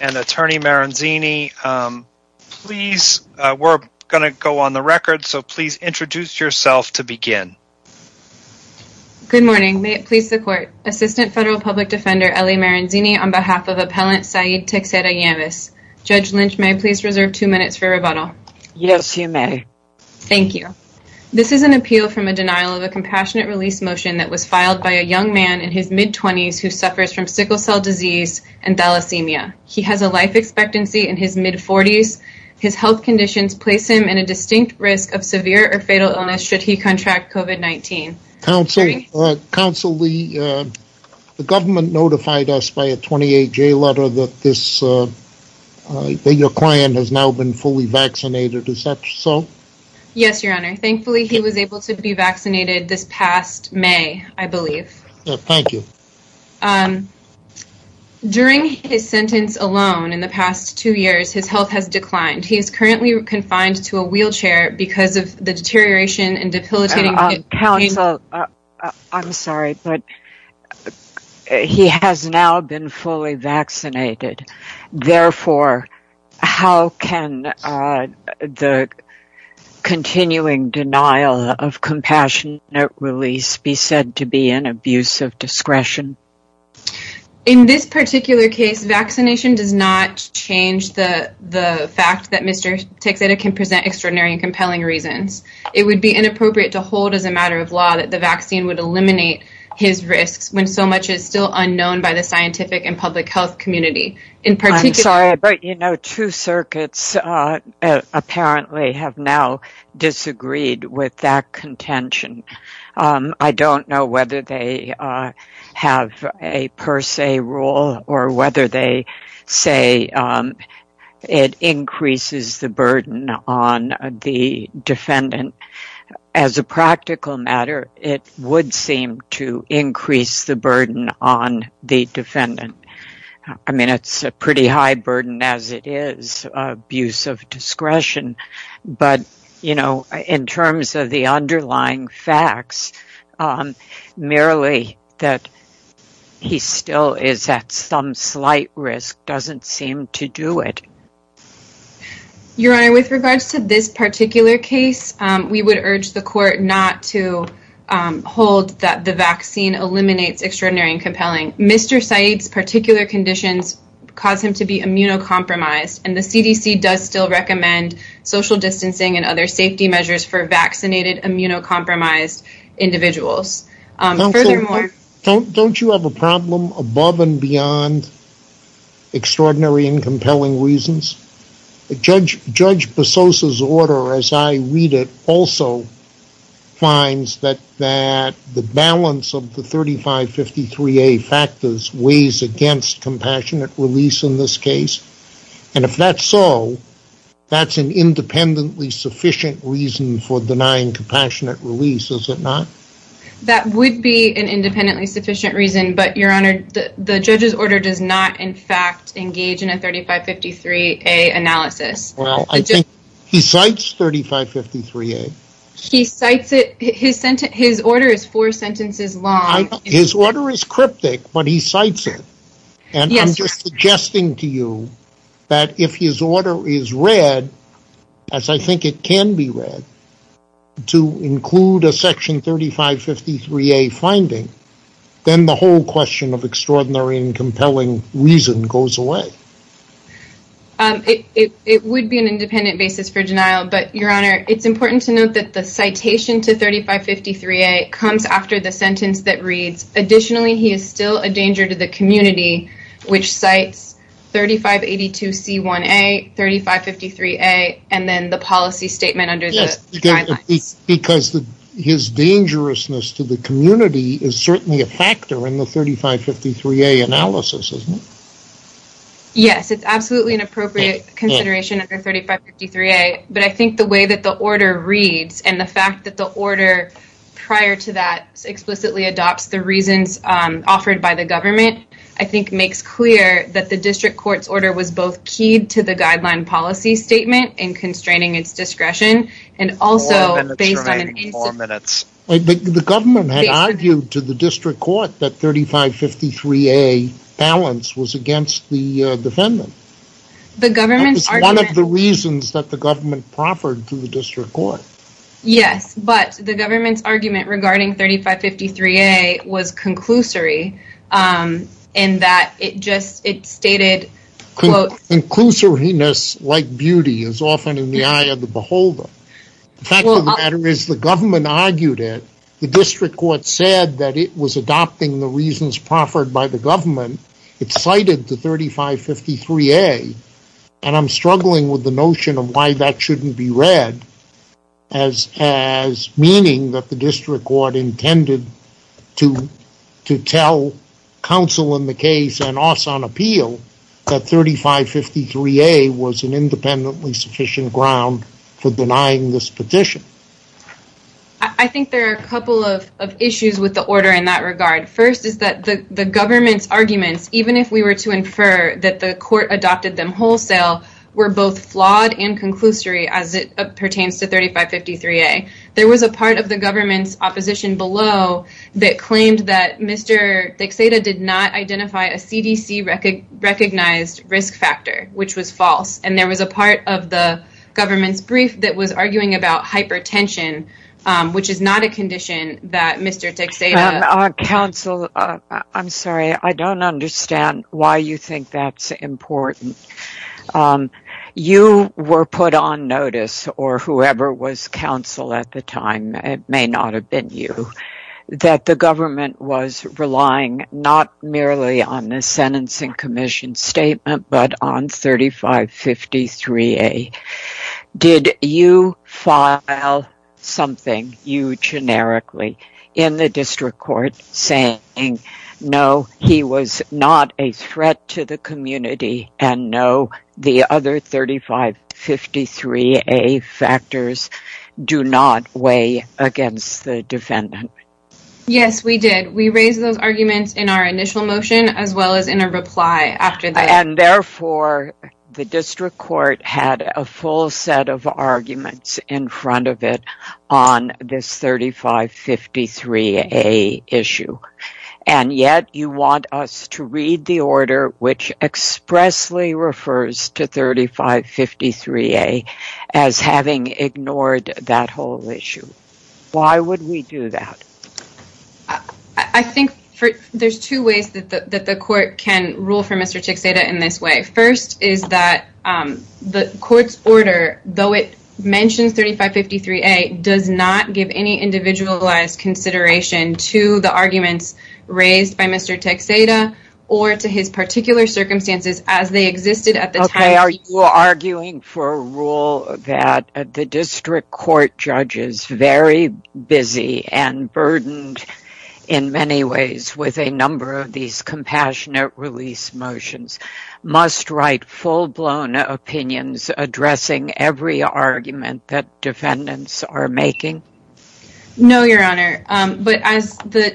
and Attorney Maranzini. We're going to go on the record, so please introduce yourself to begin. Good morning. May it please the court. Assistant Federal Public Defender Ellie Maranzini on behalf of Appellant Saeed Texeira-Nieves. Judge Lynch, may I please reserve two minutes for rebuttal? Yes, you may. Thank you. This is an appeal from a denial of a compassionate release motion that was filed by a young man in his mid-20s who suffers from sickle cell disease and thalassemia. He has a life expectancy in his mid-40s. His health conditions place him in a distinct risk of severe or fatal illness should he contract COVID-19. Counsel, the government notified us by a 28-J letter that your client has now been fully vaccinated. Is that so? Yes, your honor. Thankfully, he was able to be vaccinated this past May, I believe. Thank you. During his sentence alone in the past two years, his health has declined. He is currently confined to a wheelchair because of the deterioration and debilitating... Counsel, I'm sorry, but he has now been fully vaccinated. Therefore, how can the discretion? In this particular case, vaccination does not change the fact that Mr. Texeira can present extraordinary and compelling reasons. It would be inappropriate to hold as a matter of law that the vaccine would eliminate his risks when so much is still unknown by the scientific and public health community. I'm sorry, but you know, two circuits apparently have now disagreed with that contention. I don't know whether they have a per se rule or whether they say it increases the burden on the defendant. As a practical matter, it would seem to increase the burden on the defendant. I mean, it's a pretty high burden as it is abuse of discretion. But, you know, in terms of the underlying facts, merely that he still is at some slight risk doesn't seem to do it. Your Honor, with regards to this particular case, we would urge the court not to hold that the vaccine eliminates extraordinary and compelling. Mr. Saeed's particular conditions cause him to recommend social distancing and other safety measures for vaccinated, immunocompromised individuals. Furthermore... Don't you have a problem above and beyond extraordinary and compelling reasons? Judge Bososa's order, as I read it, also finds that the balance of the 3553A factors weighs against compassionate release in this case. And if that's so, that's an independently sufficient reason for denying compassionate release, is it not? That would be an independently sufficient reason. But, Your Honor, the judge's order does not, in fact, engage in a 3553A analysis. Well, I think he cites 3553A. He cites it. His order is four sentences long. His order is cryptic, but he cites it. And I'm just suggesting to you that if his order is read, as I think it can be read, to include a section 3553A finding, then the whole question of extraordinary and compelling reason goes away. It would be an independent basis for denial, but, Your Honor, it's important to note that the Additionally, he is still a danger to the community, which cites 3582C1A, 3553A, and then the policy statement under the guidelines. Yes, because his dangerousness to the community is certainly a factor in the 3553A analysis, isn't it? Yes, it's absolutely an appropriate consideration under 3553A, but I think the way that the order reads, and the fact that the order prior to that explicitly adopts the reasons offered by the government, I think makes clear that the district court's order was both keyed to the guideline policy statement and constraining its discretion, and also based on an incident. The government had argued to the district court that 3553A balance was against the defendant. That was one of the reasons that the government proffered to the district court. Yes, but the government's argument regarding 3553A was conclusory in that it stated, Conclusoriness like beauty is often in the eye of the beholder. The fact of the matter is the government argued it. The district court said that it was adopting the reasons proffered by the government. It cited the 3553A, and I'm struggling with the notion of why that shouldn't be read as meaning that the district court intended to tell counsel in the case and also on appeal that 3553A was an independently sufficient ground for denying this petition. I think there are a couple of issues with the order in that regard. First is that the government's arguments, even if we were to infer that the court adopted them wholesale, were both flawed and conclusory as it pertains to 3553A. There was a part of the government's opposition below that claimed that Mr. Dixada did not identify a CDC recognized risk factor, which was false, and there was a part of the government's brief that was arguing about hypertension, which is not a condition that Mr. Dixada... Counsel, I'm sorry, I don't understand why you think that's important. You were put on notice, or whoever was counsel at the time, it may not have been you, that the government was relying not merely on the sentencing commission statement, but on 3553A. Did you file something, you generically, in the district court saying, no, he was not a threat to the community, and no, the other 3553A factors do not weigh against the defendant? Yes, we did. We raised those arguments in our initial motion, as well as in a reply after that. And therefore, the district court had a full set of arguments in front of it on this 3553A issue, and yet you want us to read the order which expressly refers to 3553A as having ignored that whole issue. Why would we do that? I think there's two ways that the court can rule for Mr. Dixada in this way. First, is that the court's order, though it mentions 3553A, does not give any individualized consideration to the arguments raised by Mr. Dixada, or to his particular circumstances as they existed at the time. Are you arguing for a rule that the district court judges, very busy and burdened in many ways with a number of these compassionate release motions, must write full-blown opinions addressing every argument that defendants are making? No, Your Honor. But as the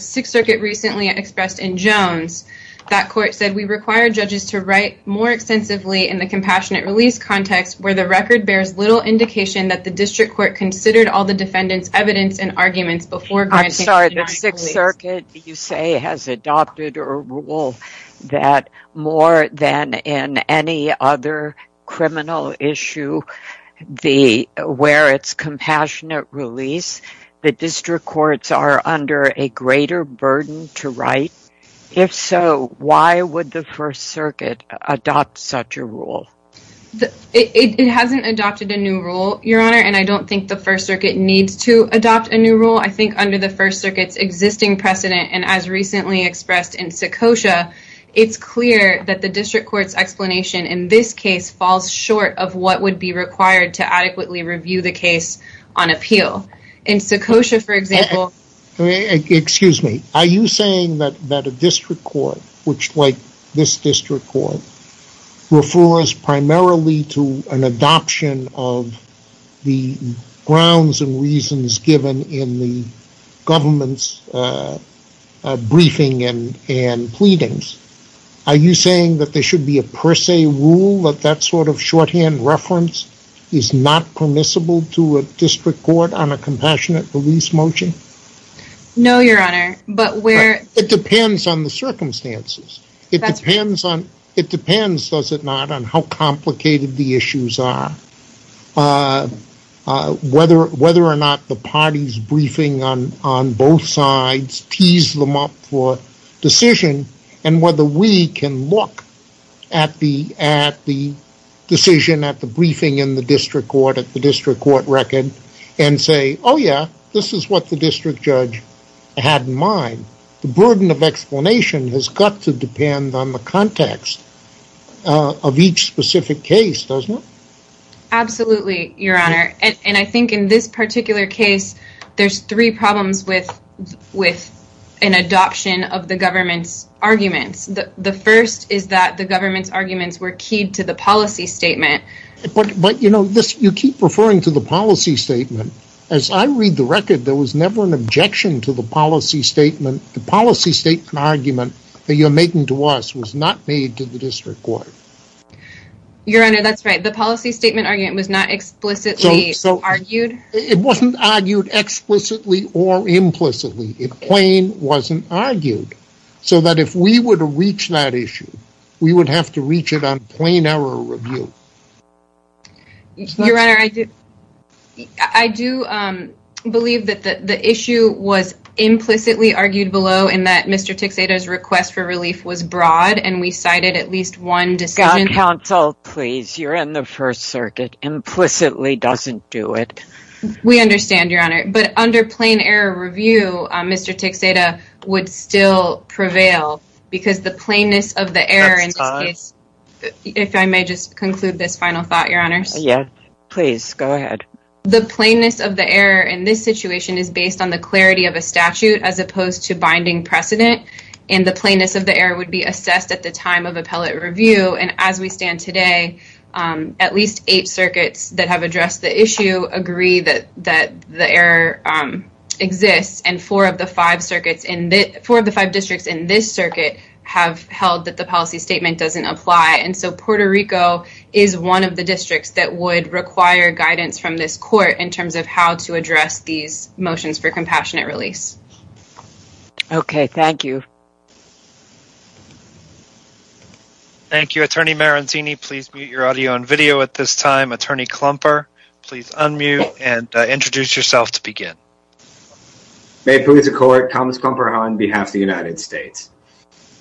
Sixth Circuit recently expressed in Jones, that court said, we require judges to write more extensively in the compassionate release context where the record bears little indication that the district court considered all the defendants' evidence and arguments before granting... I'm sorry, the Sixth Circuit, you say, has adopted a rule that more than in any other criminal issue where it's compassionate release, the district courts are under a greater burden to write? If so, why would the First Circuit adopt such a rule? It hasn't adopted a new rule, Your Honor, and I don't think the First Circuit needs to adopt a new rule. I think under the First Circuit's existing precedent, and as recently expressed in Secocia, it's clear that the district court's explanation in this case falls short of what would be required to adequately review the case on appeal. In Secocia, for example... Excuse me. Are you saying that a district court, which, like this district court, refers primarily to an adoption of the grounds and reasons given in the government's briefing and pleadings, are you saying that there should be a per se rule that that sort of shorthand reference is not permissible to a district court on a compassionate release motion? No, Your Honor, but where... It depends on the circumstances. That's right. It depends, does it not, on how complicated the issues are, whether or not the party's briefing on both sides tees them up for decision, and whether we can look at the decision, at the briefing in the district court, at the district court record, and say, oh yeah, this is what the district judge had in mind. The burden of explanation has got to depend on the context of each specific case, doesn't it? Absolutely, Your Honor, and I think in this an adoption of the government's arguments. The first is that the government's arguments were keyed to the policy statement. But, you know, you keep referring to the policy statement. As I read the record, there was never an objection to the policy statement. The policy statement argument that you're making to us was not made to the district court. Your Honor, that's right. The policy statement argument was not explicitly argued. It wasn't argued explicitly or implicitly. It plain wasn't argued, so that if we would reach that issue, we would have to reach it on plain error review. Your Honor, I do believe that the issue was implicitly argued below, in that Mr. Tixeda's request for relief was broad, and we cited at least one decision. Counsel, please, you're in the First Circuit. Implicitly doesn't do it. We understand, Your Honor, but under plain error review, Mr. Tixeda would still prevail, because the plainness of the error in this case. If I may just conclude this final thought, Your Honor. Yeah, please go ahead. The plainness of the error in this situation is based on the clarity of a statute as opposed to binding precedent, and the plainness of the error would be assessed at the time of appellate review and as we stand today. At least eight circuits that have addressed the issue agree that the error exists, and four of the five districts in this circuit have held that the policy statement doesn't apply, and so Puerto Rico is one of the districts that would require guidance from this court in terms of how to address these motions for compassionate release. Okay, thank you. Thank you, Attorney Maranzini. Please mute your audio and video at this time. Attorney Klumper, please unmute and introduce yourself to begin. May it please the court, Thomas Klumper on behalf of the United States.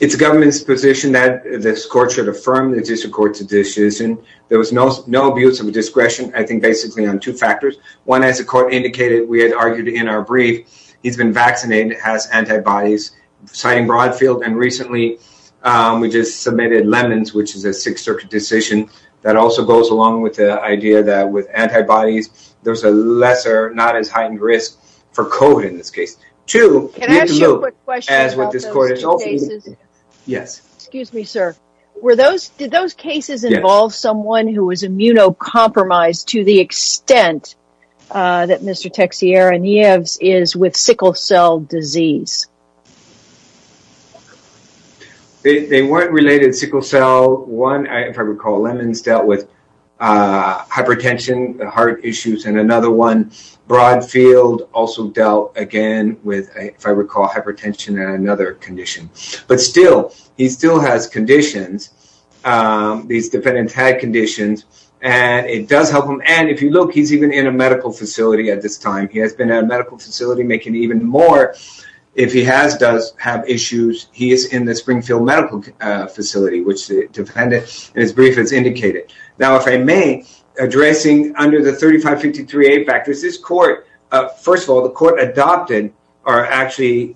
It's the government's position that this court should affirm the district court's decision. There was no abuse of discretion, I think basically on two factors. One, as the court indicated, we had argued in our brief, he's been vaccinated, has antibodies, citing Broadfield, and recently, we just submitted Lemons, which is a six-circuit decision that also goes along with the idea that with antibodies, there's a lesser, not as heightened risk for COVID in this case. Two, we have to look as what this court has also indicated. Yes. Excuse me, sir. Did those cases involve someone who was immunocompromised to the extent that Mr. Teixeira-Nieves is with sickle cell disease? They weren't related to sickle cell. One, if I recall, Lemons dealt with hypertension, heart issues, and another one, Broadfield, also dealt again with, if I recall, hypertension and another condition. But still, he still has conditions. These defendants had conditions, and it does help him. And if you look, he's even in a medical facility at this time. He has been making even more. If he has, does have issues, he is in the Springfield Medical Facility, which the defendant, in his brief, has indicated. Now, if I may, addressing under the 3553A factors, this court, first of all, the court adopted, or actually,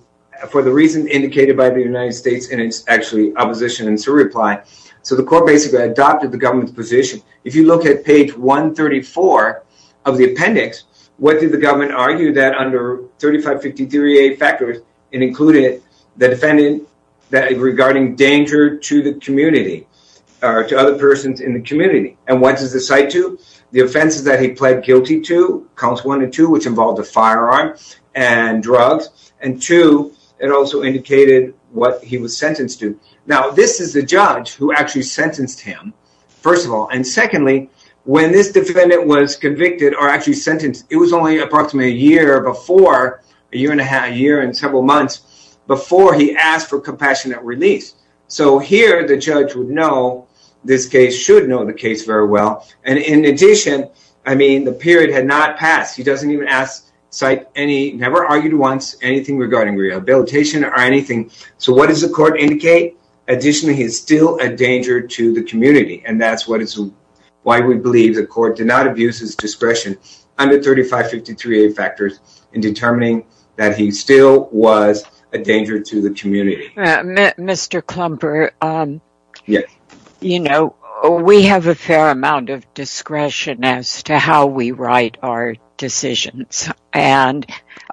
for the reason indicated by the United States, and it's actually opposition, and it's a reply. So, the court basically adopted the government's position. If you look at page 134 of the appendix, what did the government argue that under 3553A factors, it included the defendant regarding danger to the community, or to other persons in the community. And what does it cite to? The offenses that he pled guilty to, counts one and two, which involved a firearm and drugs. And two, it also indicated what he was sentenced to. Now, this is the judge who actually sentenced him, first of all. And secondly, when this defendant was convicted, or actually sentenced, it was only approximately a year before, a year and a half, a year and several months, before he asked for compassionate release. So, here, the judge would know this case, should know the case very well. And in addition, I mean, the period had not passed. He doesn't even ask, cite any, never argued once, anything regarding rehabilitation or anything. So, what does the court indicate? Additionally, he is still a danger to the community. And that's why we believe the court did not abuse his discretion under 3553A factors in determining that he still was a danger to the community. Mr. Klumper, you know, we have a fair amount of discretion as to how we write our decisions. And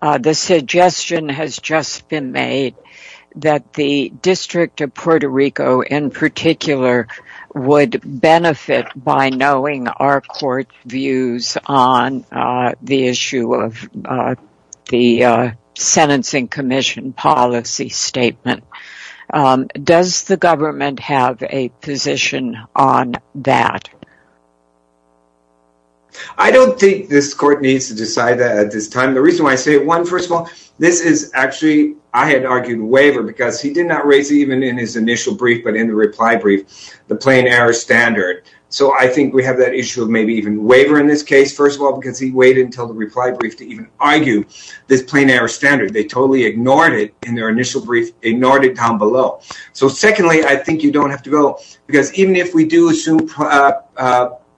the suggestion has just been made that the District of Puerto Rico, in particular, would benefit by knowing our court views on the issue of the sentencing commission policy statement. Does the government have a position on that? I don't think this court needs to decide that at this time. The reason why I say it, one, first of all, I had argued waiver because he did not raise even in his initial brief, but in the reply brief, the plain error standard. So, I think we have that issue of maybe even waiver in this case, first of all, because he waited until the reply brief to even argue this plain error standard. They totally ignored it in their initial brief, ignored it down below. So, secondly, I think you don't have to go, because even if we do assume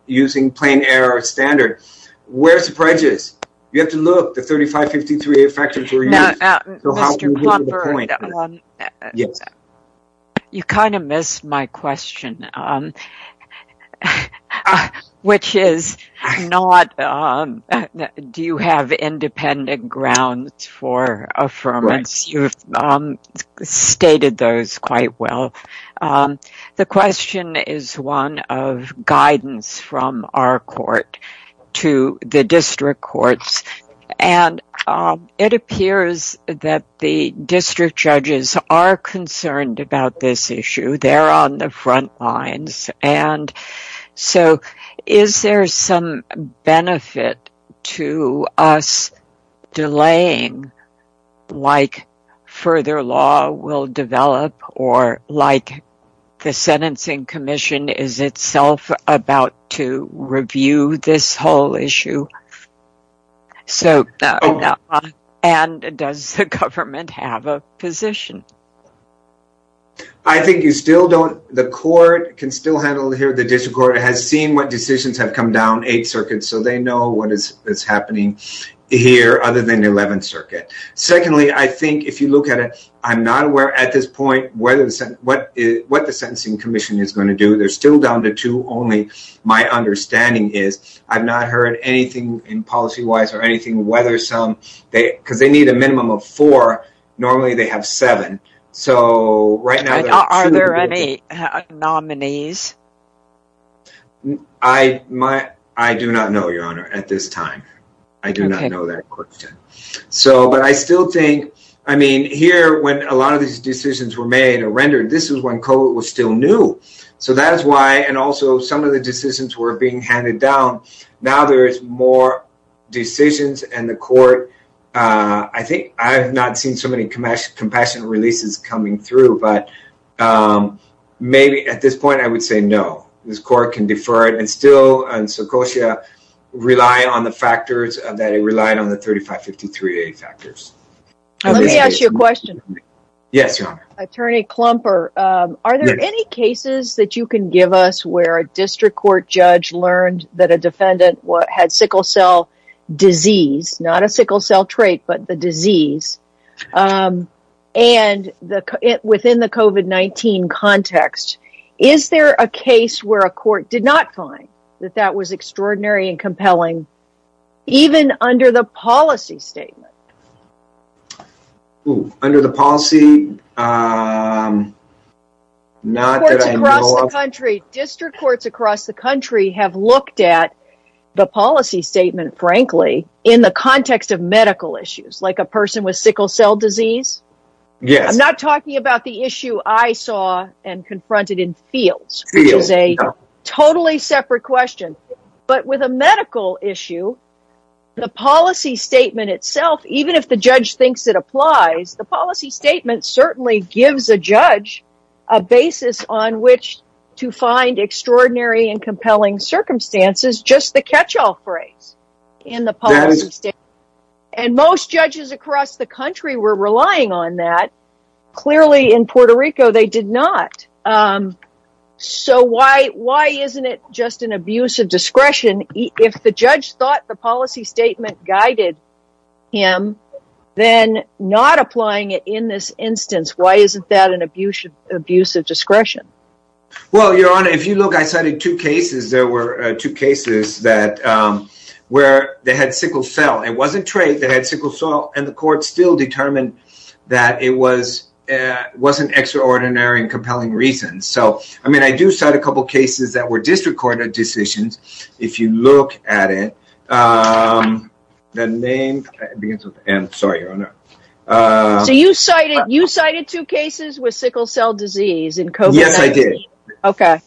using plain error standard, where's the prejudice? You have to look, the 3553A factors were used. Mr. Klumper, you kind of missed my question, which is not, do you have independent grounds for affirmance? You've stated those quite well. The question is one of guidance from our court to the district courts, and it appears that the district judges are concerned about this issue. They're on the front lines. And so, is there some benefit to us delaying like further law will develop or like the sentencing commission is itself about to review this whole issue? And does the government have a position? I think you still don't, the court can still handle it here. The district court has seen what is happening here other than the 11th circuit. Secondly, I think if you look at it, I'm not aware at this point what the sentencing commission is going to do. They're still down to two only. My understanding is I've not heard anything in policy-wise or anything, whether some, because they need a minimum of four. Normally they have seven. So, right now, are there any nominees? I do not know, Your Honor, at this time. I do not know that question. But I still think, I mean, here when a lot of these decisions were made or rendered, this is when COVID was still new. So, that is why, and also some of the decisions were being handed down. Now there's more decisions and the court, I think I've not seen so many compassionate releases coming through, but maybe at this point, I would say no. This court can defer it and still on Secocia rely on the factors that it relied on the 3553A factors. Let me ask you a question. Yes, Your Honor. Attorney Klumper, are there any cases that you can give us where a district court judge learned that a defendant had sickle cell disease, not a sickle cell trait, but the disease? And within the COVID-19 context, is there a case where a court did not find that that was extraordinary and compelling, even under the policy statement? Under the policy, not that I know of. District courts across the country have looked at the policy statement, frankly, in the context of medical issues, like a person with sickle cell disease. I'm not talking about the issue I saw and confronted in fields, which is a totally separate question, but with a medical issue, the policy statement itself, even if the judge thinks it applies, the policy statement certainly gives a judge a basis on which to find extraordinary and compelling circumstances, just the catch-all phrase in the policy statement. And most judges across the country were relying on that. Clearly in Puerto Rico, they did not. So why isn't it just an abuse of discretion? If the judge thought the policy statement guided him, then not applying it in this instance, why isn't that an abuse of discretion? Well, Your Honor, if you look, I cited two cases. There were two cases where they had sickle cell. It wasn't trade. They had sickle cell, and the court still determined that it wasn't extraordinary and compelling reasons. So, I mean, I do cite a couple of cases that were district court decisions. If you look at it, the name begins with M. Sorry, Your Honor. So you cited two cases with sickle cell disease in COVID-19? Okay.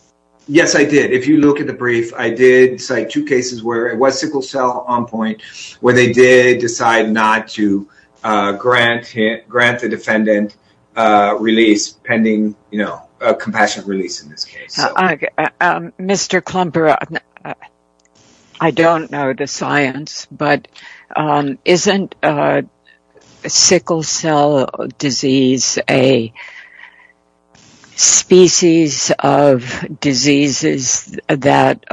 Yes, I did. If you look at the brief, I did cite two cases where it was sickle cell on point where they did decide not to grant the defendant release pending, you know, a compassionate release in this case. Mr. Klumperer, I don't know the science, but isn't sickle cell disease a species of diseases that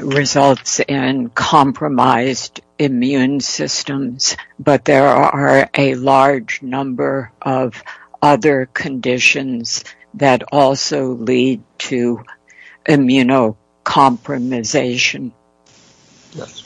results in compromised immune systems, but there are a large number of other conditions that also lead to immunocompromisation? Yes.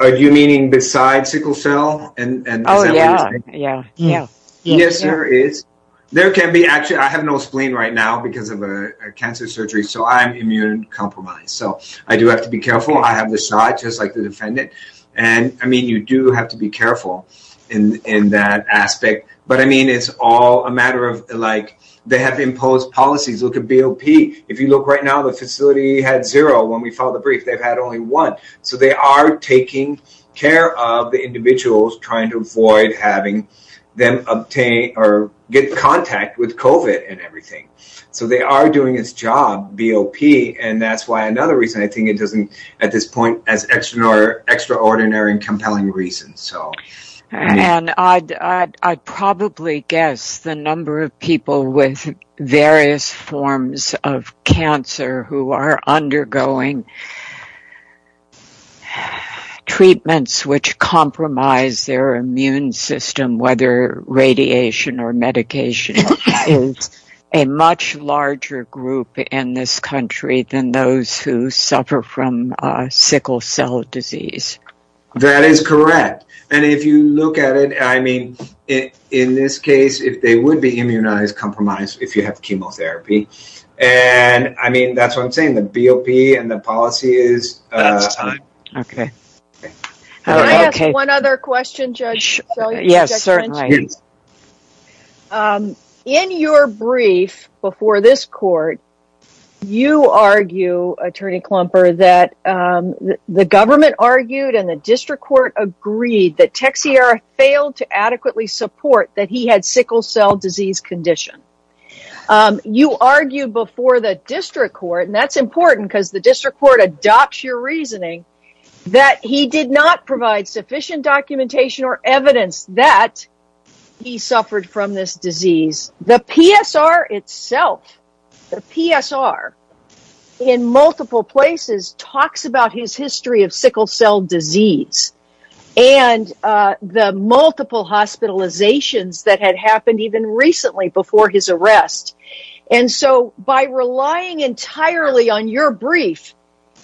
Are you meaning besides sickle cell? Oh, yeah, yeah, yeah. Yes, there is. There can be actually, I have no spleen right now because of a cancer surgery, so I'm immune compromised. So, I do have to be careful. I have the shot, just like the defendant. And, I mean, you do have to be careful in that aspect. But, I mean, it's all a matter of, like, they have imposed policies. Look at BOP. If you look right now, the facility had zero. When we filed the brief, they've had only one. So, they are taking care of the individuals, trying to avoid having them obtain or get contact with COVID and everything. So, they are doing this job, BOP, and that's why another reason I think it doesn't, at this point, as extraordinary and of cancer who are undergoing treatments which compromise their immune system, whether radiation or medication, is a much larger group in this country than those who suffer from sickle cell disease. That is correct. And, if you look at it, I mean, in this case, they would be immunized, compromised, if you have chemotherapy. And, I mean, that's what I'm saying. The BOP and the policy is time. Okay. Can I ask one other question, Judge? Yes, certainly. In your brief before this court, you argue, Attorney Klumper, that the government argued and the district court agreed that Texiera failed to adequately support that he had sickle cell disease condition. You argued before the district court, and that's important because the district court adopts your reasoning, that he did not provide sufficient documentation or evidence that he suffered from this disease. The PSR itself, the PSR, in multiple places, talks about his history of sickle cell disease and the multiple hospitalizations that had happened even recently before his arrest. And so, by relying entirely on your brief,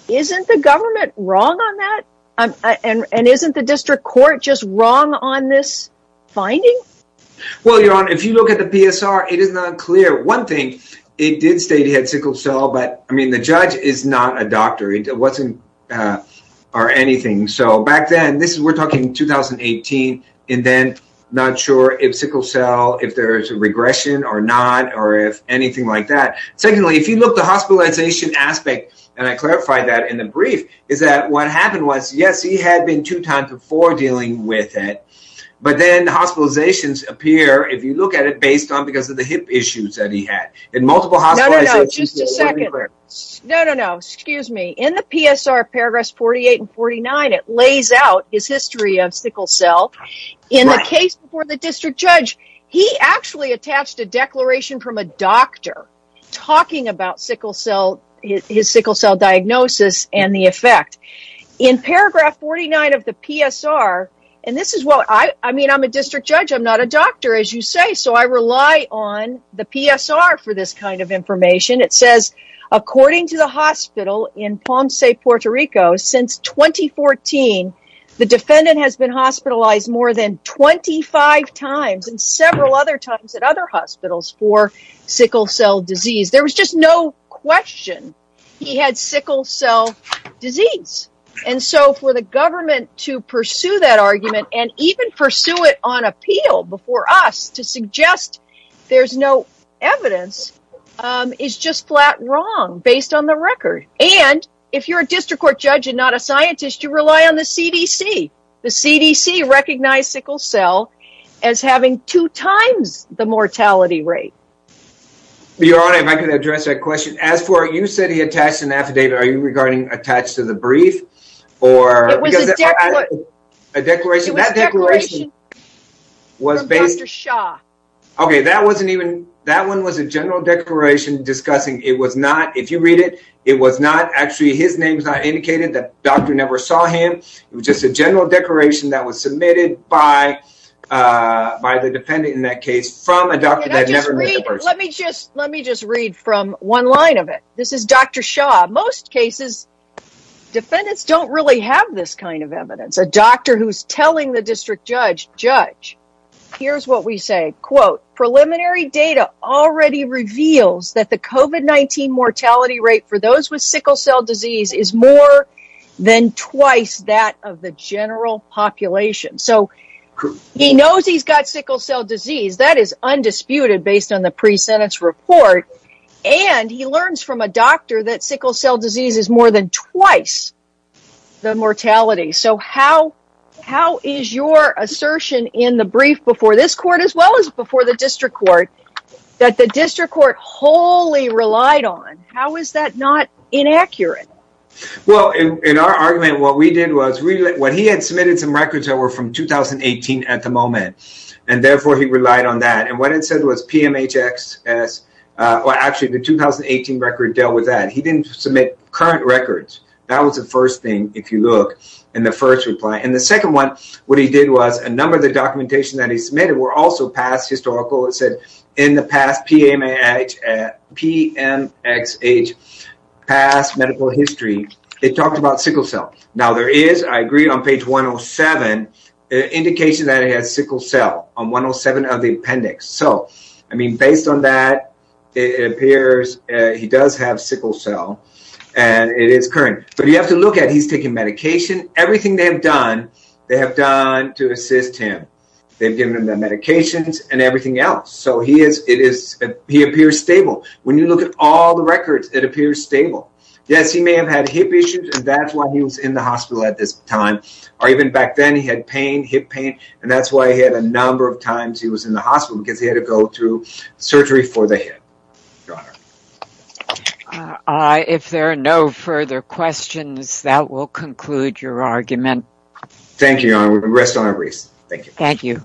isn't the government wrong on that? And isn't the district court just wrong on this finding? Well, Your Honor, if you look at the PSR, it is not clear. One thing, it did state he had sickle cell, but, I mean, the judge is not a So, back then, this is, we're talking 2018, and then not sure if sickle cell, if there's a regression or not, or if anything like that. Secondly, if you look at the hospitalization aspect, and I clarified that in the brief, is that what happened was, yes, he had been two times before dealing with it, but then hospitalizations appear, if you look at it, based on because of the hip issues that he had. In multiple hospitalizations... No, no, no. Just a lays out his history of sickle cell. In the case before the district judge, he actually attached a declaration from a doctor talking about sickle cell, his sickle cell diagnosis and the effect. In paragraph 49 of the PSR, and this is what, I mean, I'm a district judge, I'm not a doctor, as you say, so I rely on the PSR for this kind of information. It says, according to the hospital in Ponce, Puerto Rico, since 2014, the defendant has been hospitalized more than 25 times and several other times at other hospitals for sickle cell disease. There was just no question he had sickle cell disease. And so, for the government to pursue that argument and even pursue it on appeal before us to suggest there's no evidence is just flat wrong, based on the record. And if you're a district court judge and not a scientist, you rely on the CDC. The CDC recognized sickle cell as having two times the mortality rate. Your Honor, if I could address that question. As for you said he attached an affidavit, are you regarding attached to the brief or? It was a declaration. It was a declaration from Dr. Shah. Okay. That wasn't even, that one was a general declaration discussing. It was not, if you read it, it was not actually, his name is not indicated that doctor never saw him. It was just a general declaration that was submitted by the defendant in that case from a doctor that never met the person. Let me just read from one line of it. This is Dr. Shah. Most cases, defendants don't really have this kind of evidence. A doctor who's telling the district judge, judge, here's what we say, quote, preliminary data already reveals that the COVID-19 mortality rate for those with sickle cell disease is more than twice that of the general population. So he knows he's got sickle cell disease. That is undisputed based on the pre-sentence report. And he learns from a doctor that sickle cell disease is more than twice the mortality. So how is your assertion in the brief before this court as well as before the district court that the district court wholly relied on? How is that not inaccurate? Well, in our argument, what we did was when he had submitted some records that were from 2018 at the moment. And therefore, he relied on that. And what it said was PMHXS. Well, actually, the 2018 record dealt with that. He didn't submit current records. That was the first thing, if you look in the first reply. And the second one, what he did was a number of the documentation that he submitted were also past historical. It said in the past PMXH, past medical history, it talked about sickle cell. Now, there is, I agree, on page 107, indication that he has sickle cell on 107 of the appendix. So, I mean, based on that, it appears he does have sickle cell. And it is current. But you have to look at he's taking medication. Everything they have done, they have done to assist him. They've given him the medications and everything else. So he appears stable. When you look at all the records, it appears stable. Yes, he may have had hip issues. And that's why he was in the hospital at this time. Or even back then, he had pain, hip pain. And that's why he had a number of times he was in the hospital, because he had to go through surgery for the hip. Your Honor. If there are no further questions, that will conclude your argument. Thank you, Your Honor. We rest our embrace. Thank you. Thank you.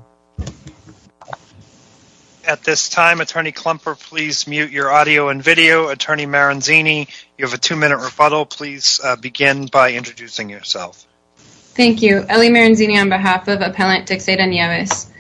At this time, Attorney Klumper, please mute your audio and video. Attorney Maranzini, you have a two-minute rebuttal. Please begin by introducing yourself. Thank you. Ellie Maranzini on behalf of Appellant Texada Nieves.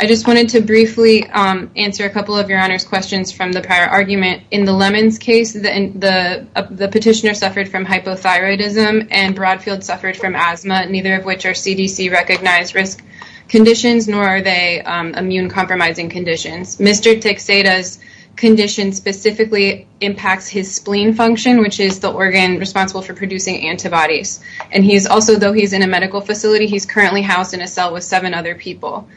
I just wanted to briefly answer a couple of Your Honor's questions from the prior argument. In the Lemons case, the petitioner suffered from hypothyroidism and Broadfield suffered from asthma, neither of which are CDC-recognized risk conditions, nor are they immune-compromising conditions. Mr. Texada's condition specifically impacts his spleen function, which is the organ responsible for producing antibodies. And he's also, though he's in a medical facility, he's currently housed in a cell with seven other people.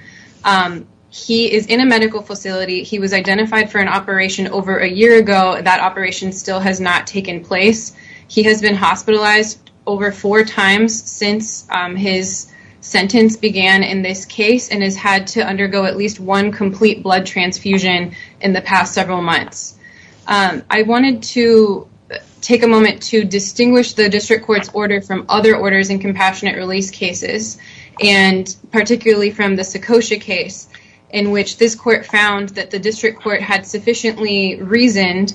He is in a medical facility. He was identified for an operation over a year ago. That operation still has not taken place. He has been hospitalized over four times since his sentence began in this case and has had to blood transfusion in the past several months. I wanted to take a moment to distinguish the district court's order from other orders in compassionate release cases, and particularly from the Secocia case in which this court found that the district court had sufficiently reasoned.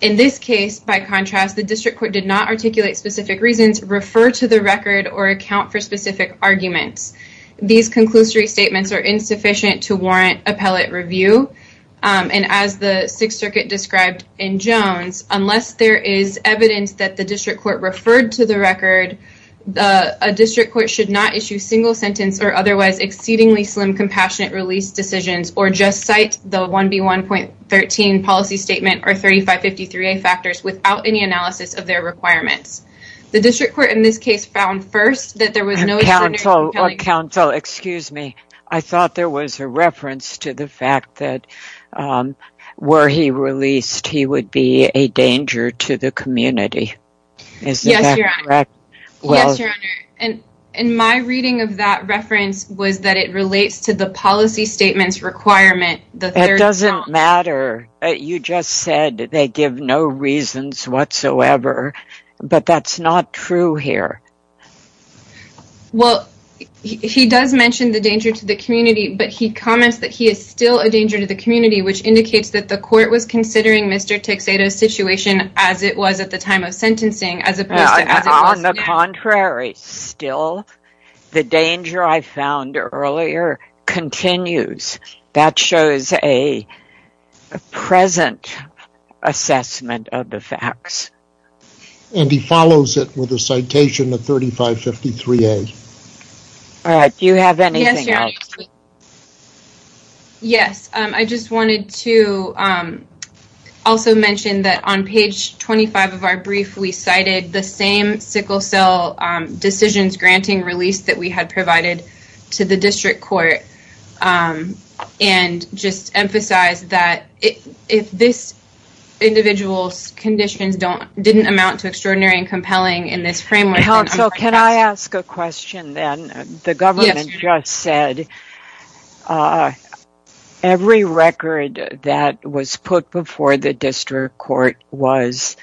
In this case, by contrast, the district court did not articulate specific reasons, refer to the record, or account for specific arguments. These conclusory statements are insufficient to warrant appellate review. And as the Sixth Circuit described in Jones, unless there is evidence that the district court referred to the record, a district court should not issue single sentence or otherwise exceedingly slim compassionate release decisions or just cite the 1B1.13 policy statement or 3553A factors without any analysis of their requirements. The district court in this case found first that there was no or counsel, excuse me, I thought there was a reference to the fact that were he released, he would be a danger to the community. Is that correct? Yes, your honor. And my reading of that reference was that it relates to the policy statements requirement. It doesn't matter. You just said they give no reasons whatsoever, but that's not true here. Well, he does mention the danger to the community, but he comments that he is still a danger to the community, which indicates that the court was considering Mr. Tixedo's situation as it was at the time of sentencing. On the contrary, still, the danger I found earlier continues. That shows a present assessment of the facts. And he follows it with a citation of 3553A. All right. Do you have anything else? Yes, your honor. Yes, I just wanted to also mention that on page 25 of our brief, we cited the same sickle cell decisions granting release that we had provided to the district court and just emphasize that if this individual's conditions didn't amount to extraordinary and compelling in this framework. So can I ask a question then? The government just said every record that was put before the district court was,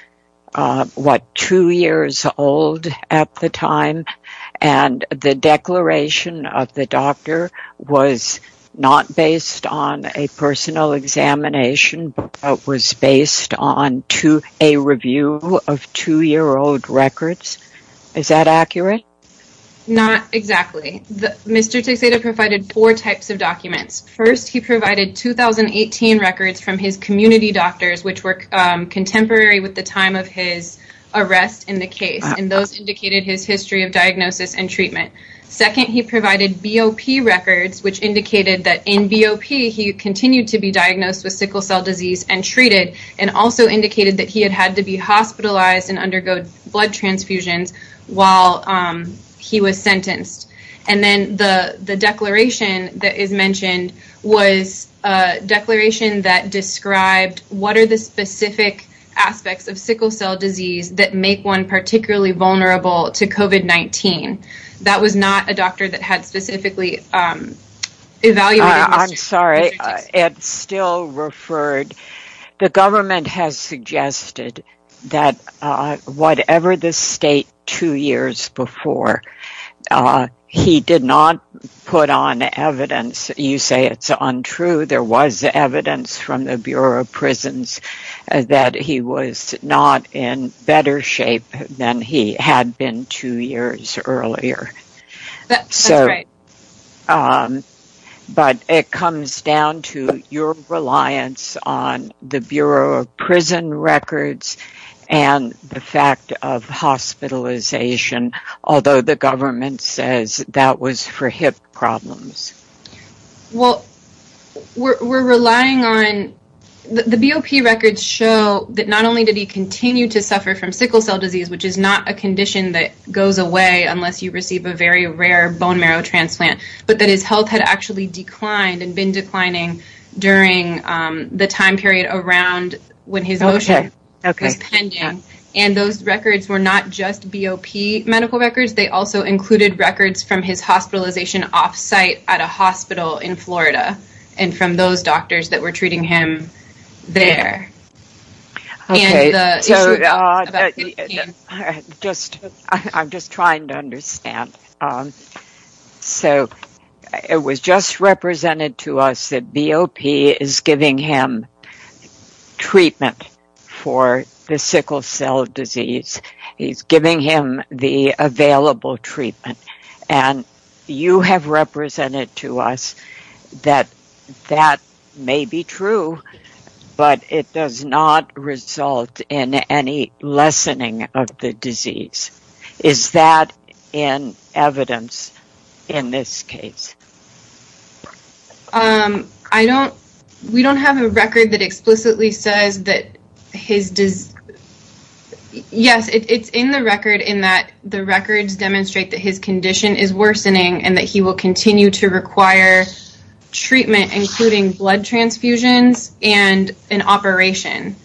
what, two years old at the time? And the declaration of the doctor was not based on a personal examination, but was based on a review of two-year-old records. Is that accurate? Not exactly. Mr. Tixedo provided four types of documents. First, he provided 2018 records from his community doctors, which were diagnosis and treatment. Second, he provided BOP records, which indicated that in BOP, he continued to be diagnosed with sickle cell disease and treated, and also indicated that he had had to be hospitalized and undergo blood transfusions while he was sentenced. And then the declaration that is mentioned was a declaration that described what are the specific aspects of sickle cell disease that make one particularly vulnerable to COVID-19. That was not a doctor that had specifically evaluated Mr. Tixedo. I'm sorry. It's still referred. The government has suggested that whatever the state two years before, he did not put on evidence. You say it's untrue. There was evidence from the Bureau of Prisons that he was not in better shape than he had been two years earlier. But it comes down to your reliance on the Bureau of Prison Records and the fact of hospitalization, although the government says that was for hip problems. Well, we're relying on the BOP records show that not only did he continue to suffer from sickle cell disease, which is not a condition that goes away unless you receive a very rare bone marrow transplant, but that his health had actually declined and been declining during the time period around when his motion was pending. And those records were not just BOP medical records. They also included records from his hospitalization offsite at a hospital in Florida and from those doctors that were treating him there. I'm just trying to understand. So it was just represented to us that BOP is giving him treatment for the sickle cell disease. He's giving him the available treatment, and you have represented to us that that may be true, but it does not result in any lessening of the disease. Is that in evidence in this case? I don't... We don't have a record that explicitly says that his... Yes, it's in the record in that the records demonstrate that his condition is worsening and that he will continue to require treatment, including blood transfusions and an operation,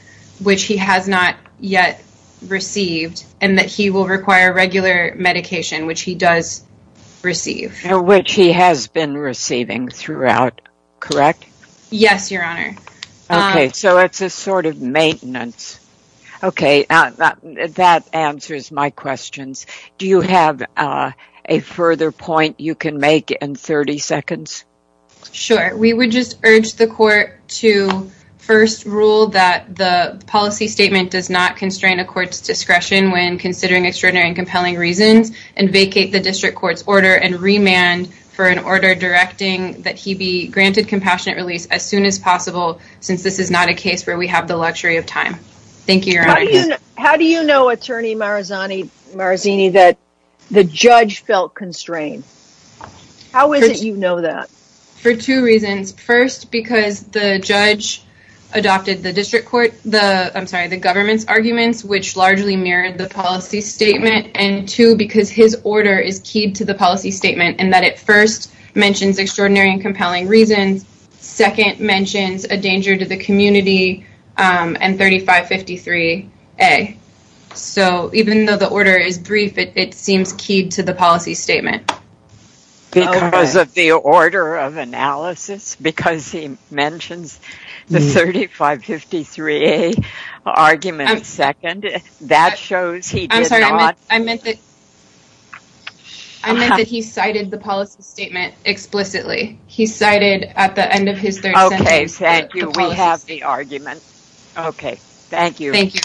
which he has not yet received, and that he will require regular medication, which he does receive. Which he has been receiving throughout, correct? Yes, your honor. Okay, so it's a sort of maintenance. Okay, that answers my questions. Do you have a further point you can make in 30 seconds? Sure. We would just urge the court to first rule that the policy statement does not constrain a court's discretion when considering extraordinary and compelling reasons and vacate the district court's order and remand for an order directing that he be granted compassionate release as soon as possible, since this is not a case where we have the luxury of time. Thank you, your honor. How do you know, attorney Marazzini, that the judge felt constrained? How is it you know that? For two reasons. First, because the judge adopted the district court... I'm sorry, the government's And two, because his order is keyed to the policy statement and that it first mentions extraordinary and compelling reasons, second mentions a danger to the community, and 3553A. So even though the order is brief, it seems keyed to the policy statement. Because of the order of analysis? Because he mentions the 3553A argument second? That shows I meant that he cited the policy statement explicitly. He cited at the end of his third sentence... Okay, thank you. We have the argument. Okay, thank you. Thank you.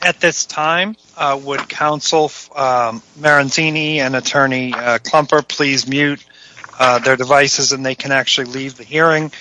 At this time, would counsel Marazzini and attorney Klumper please mute their devices and they can actually leave the hearing?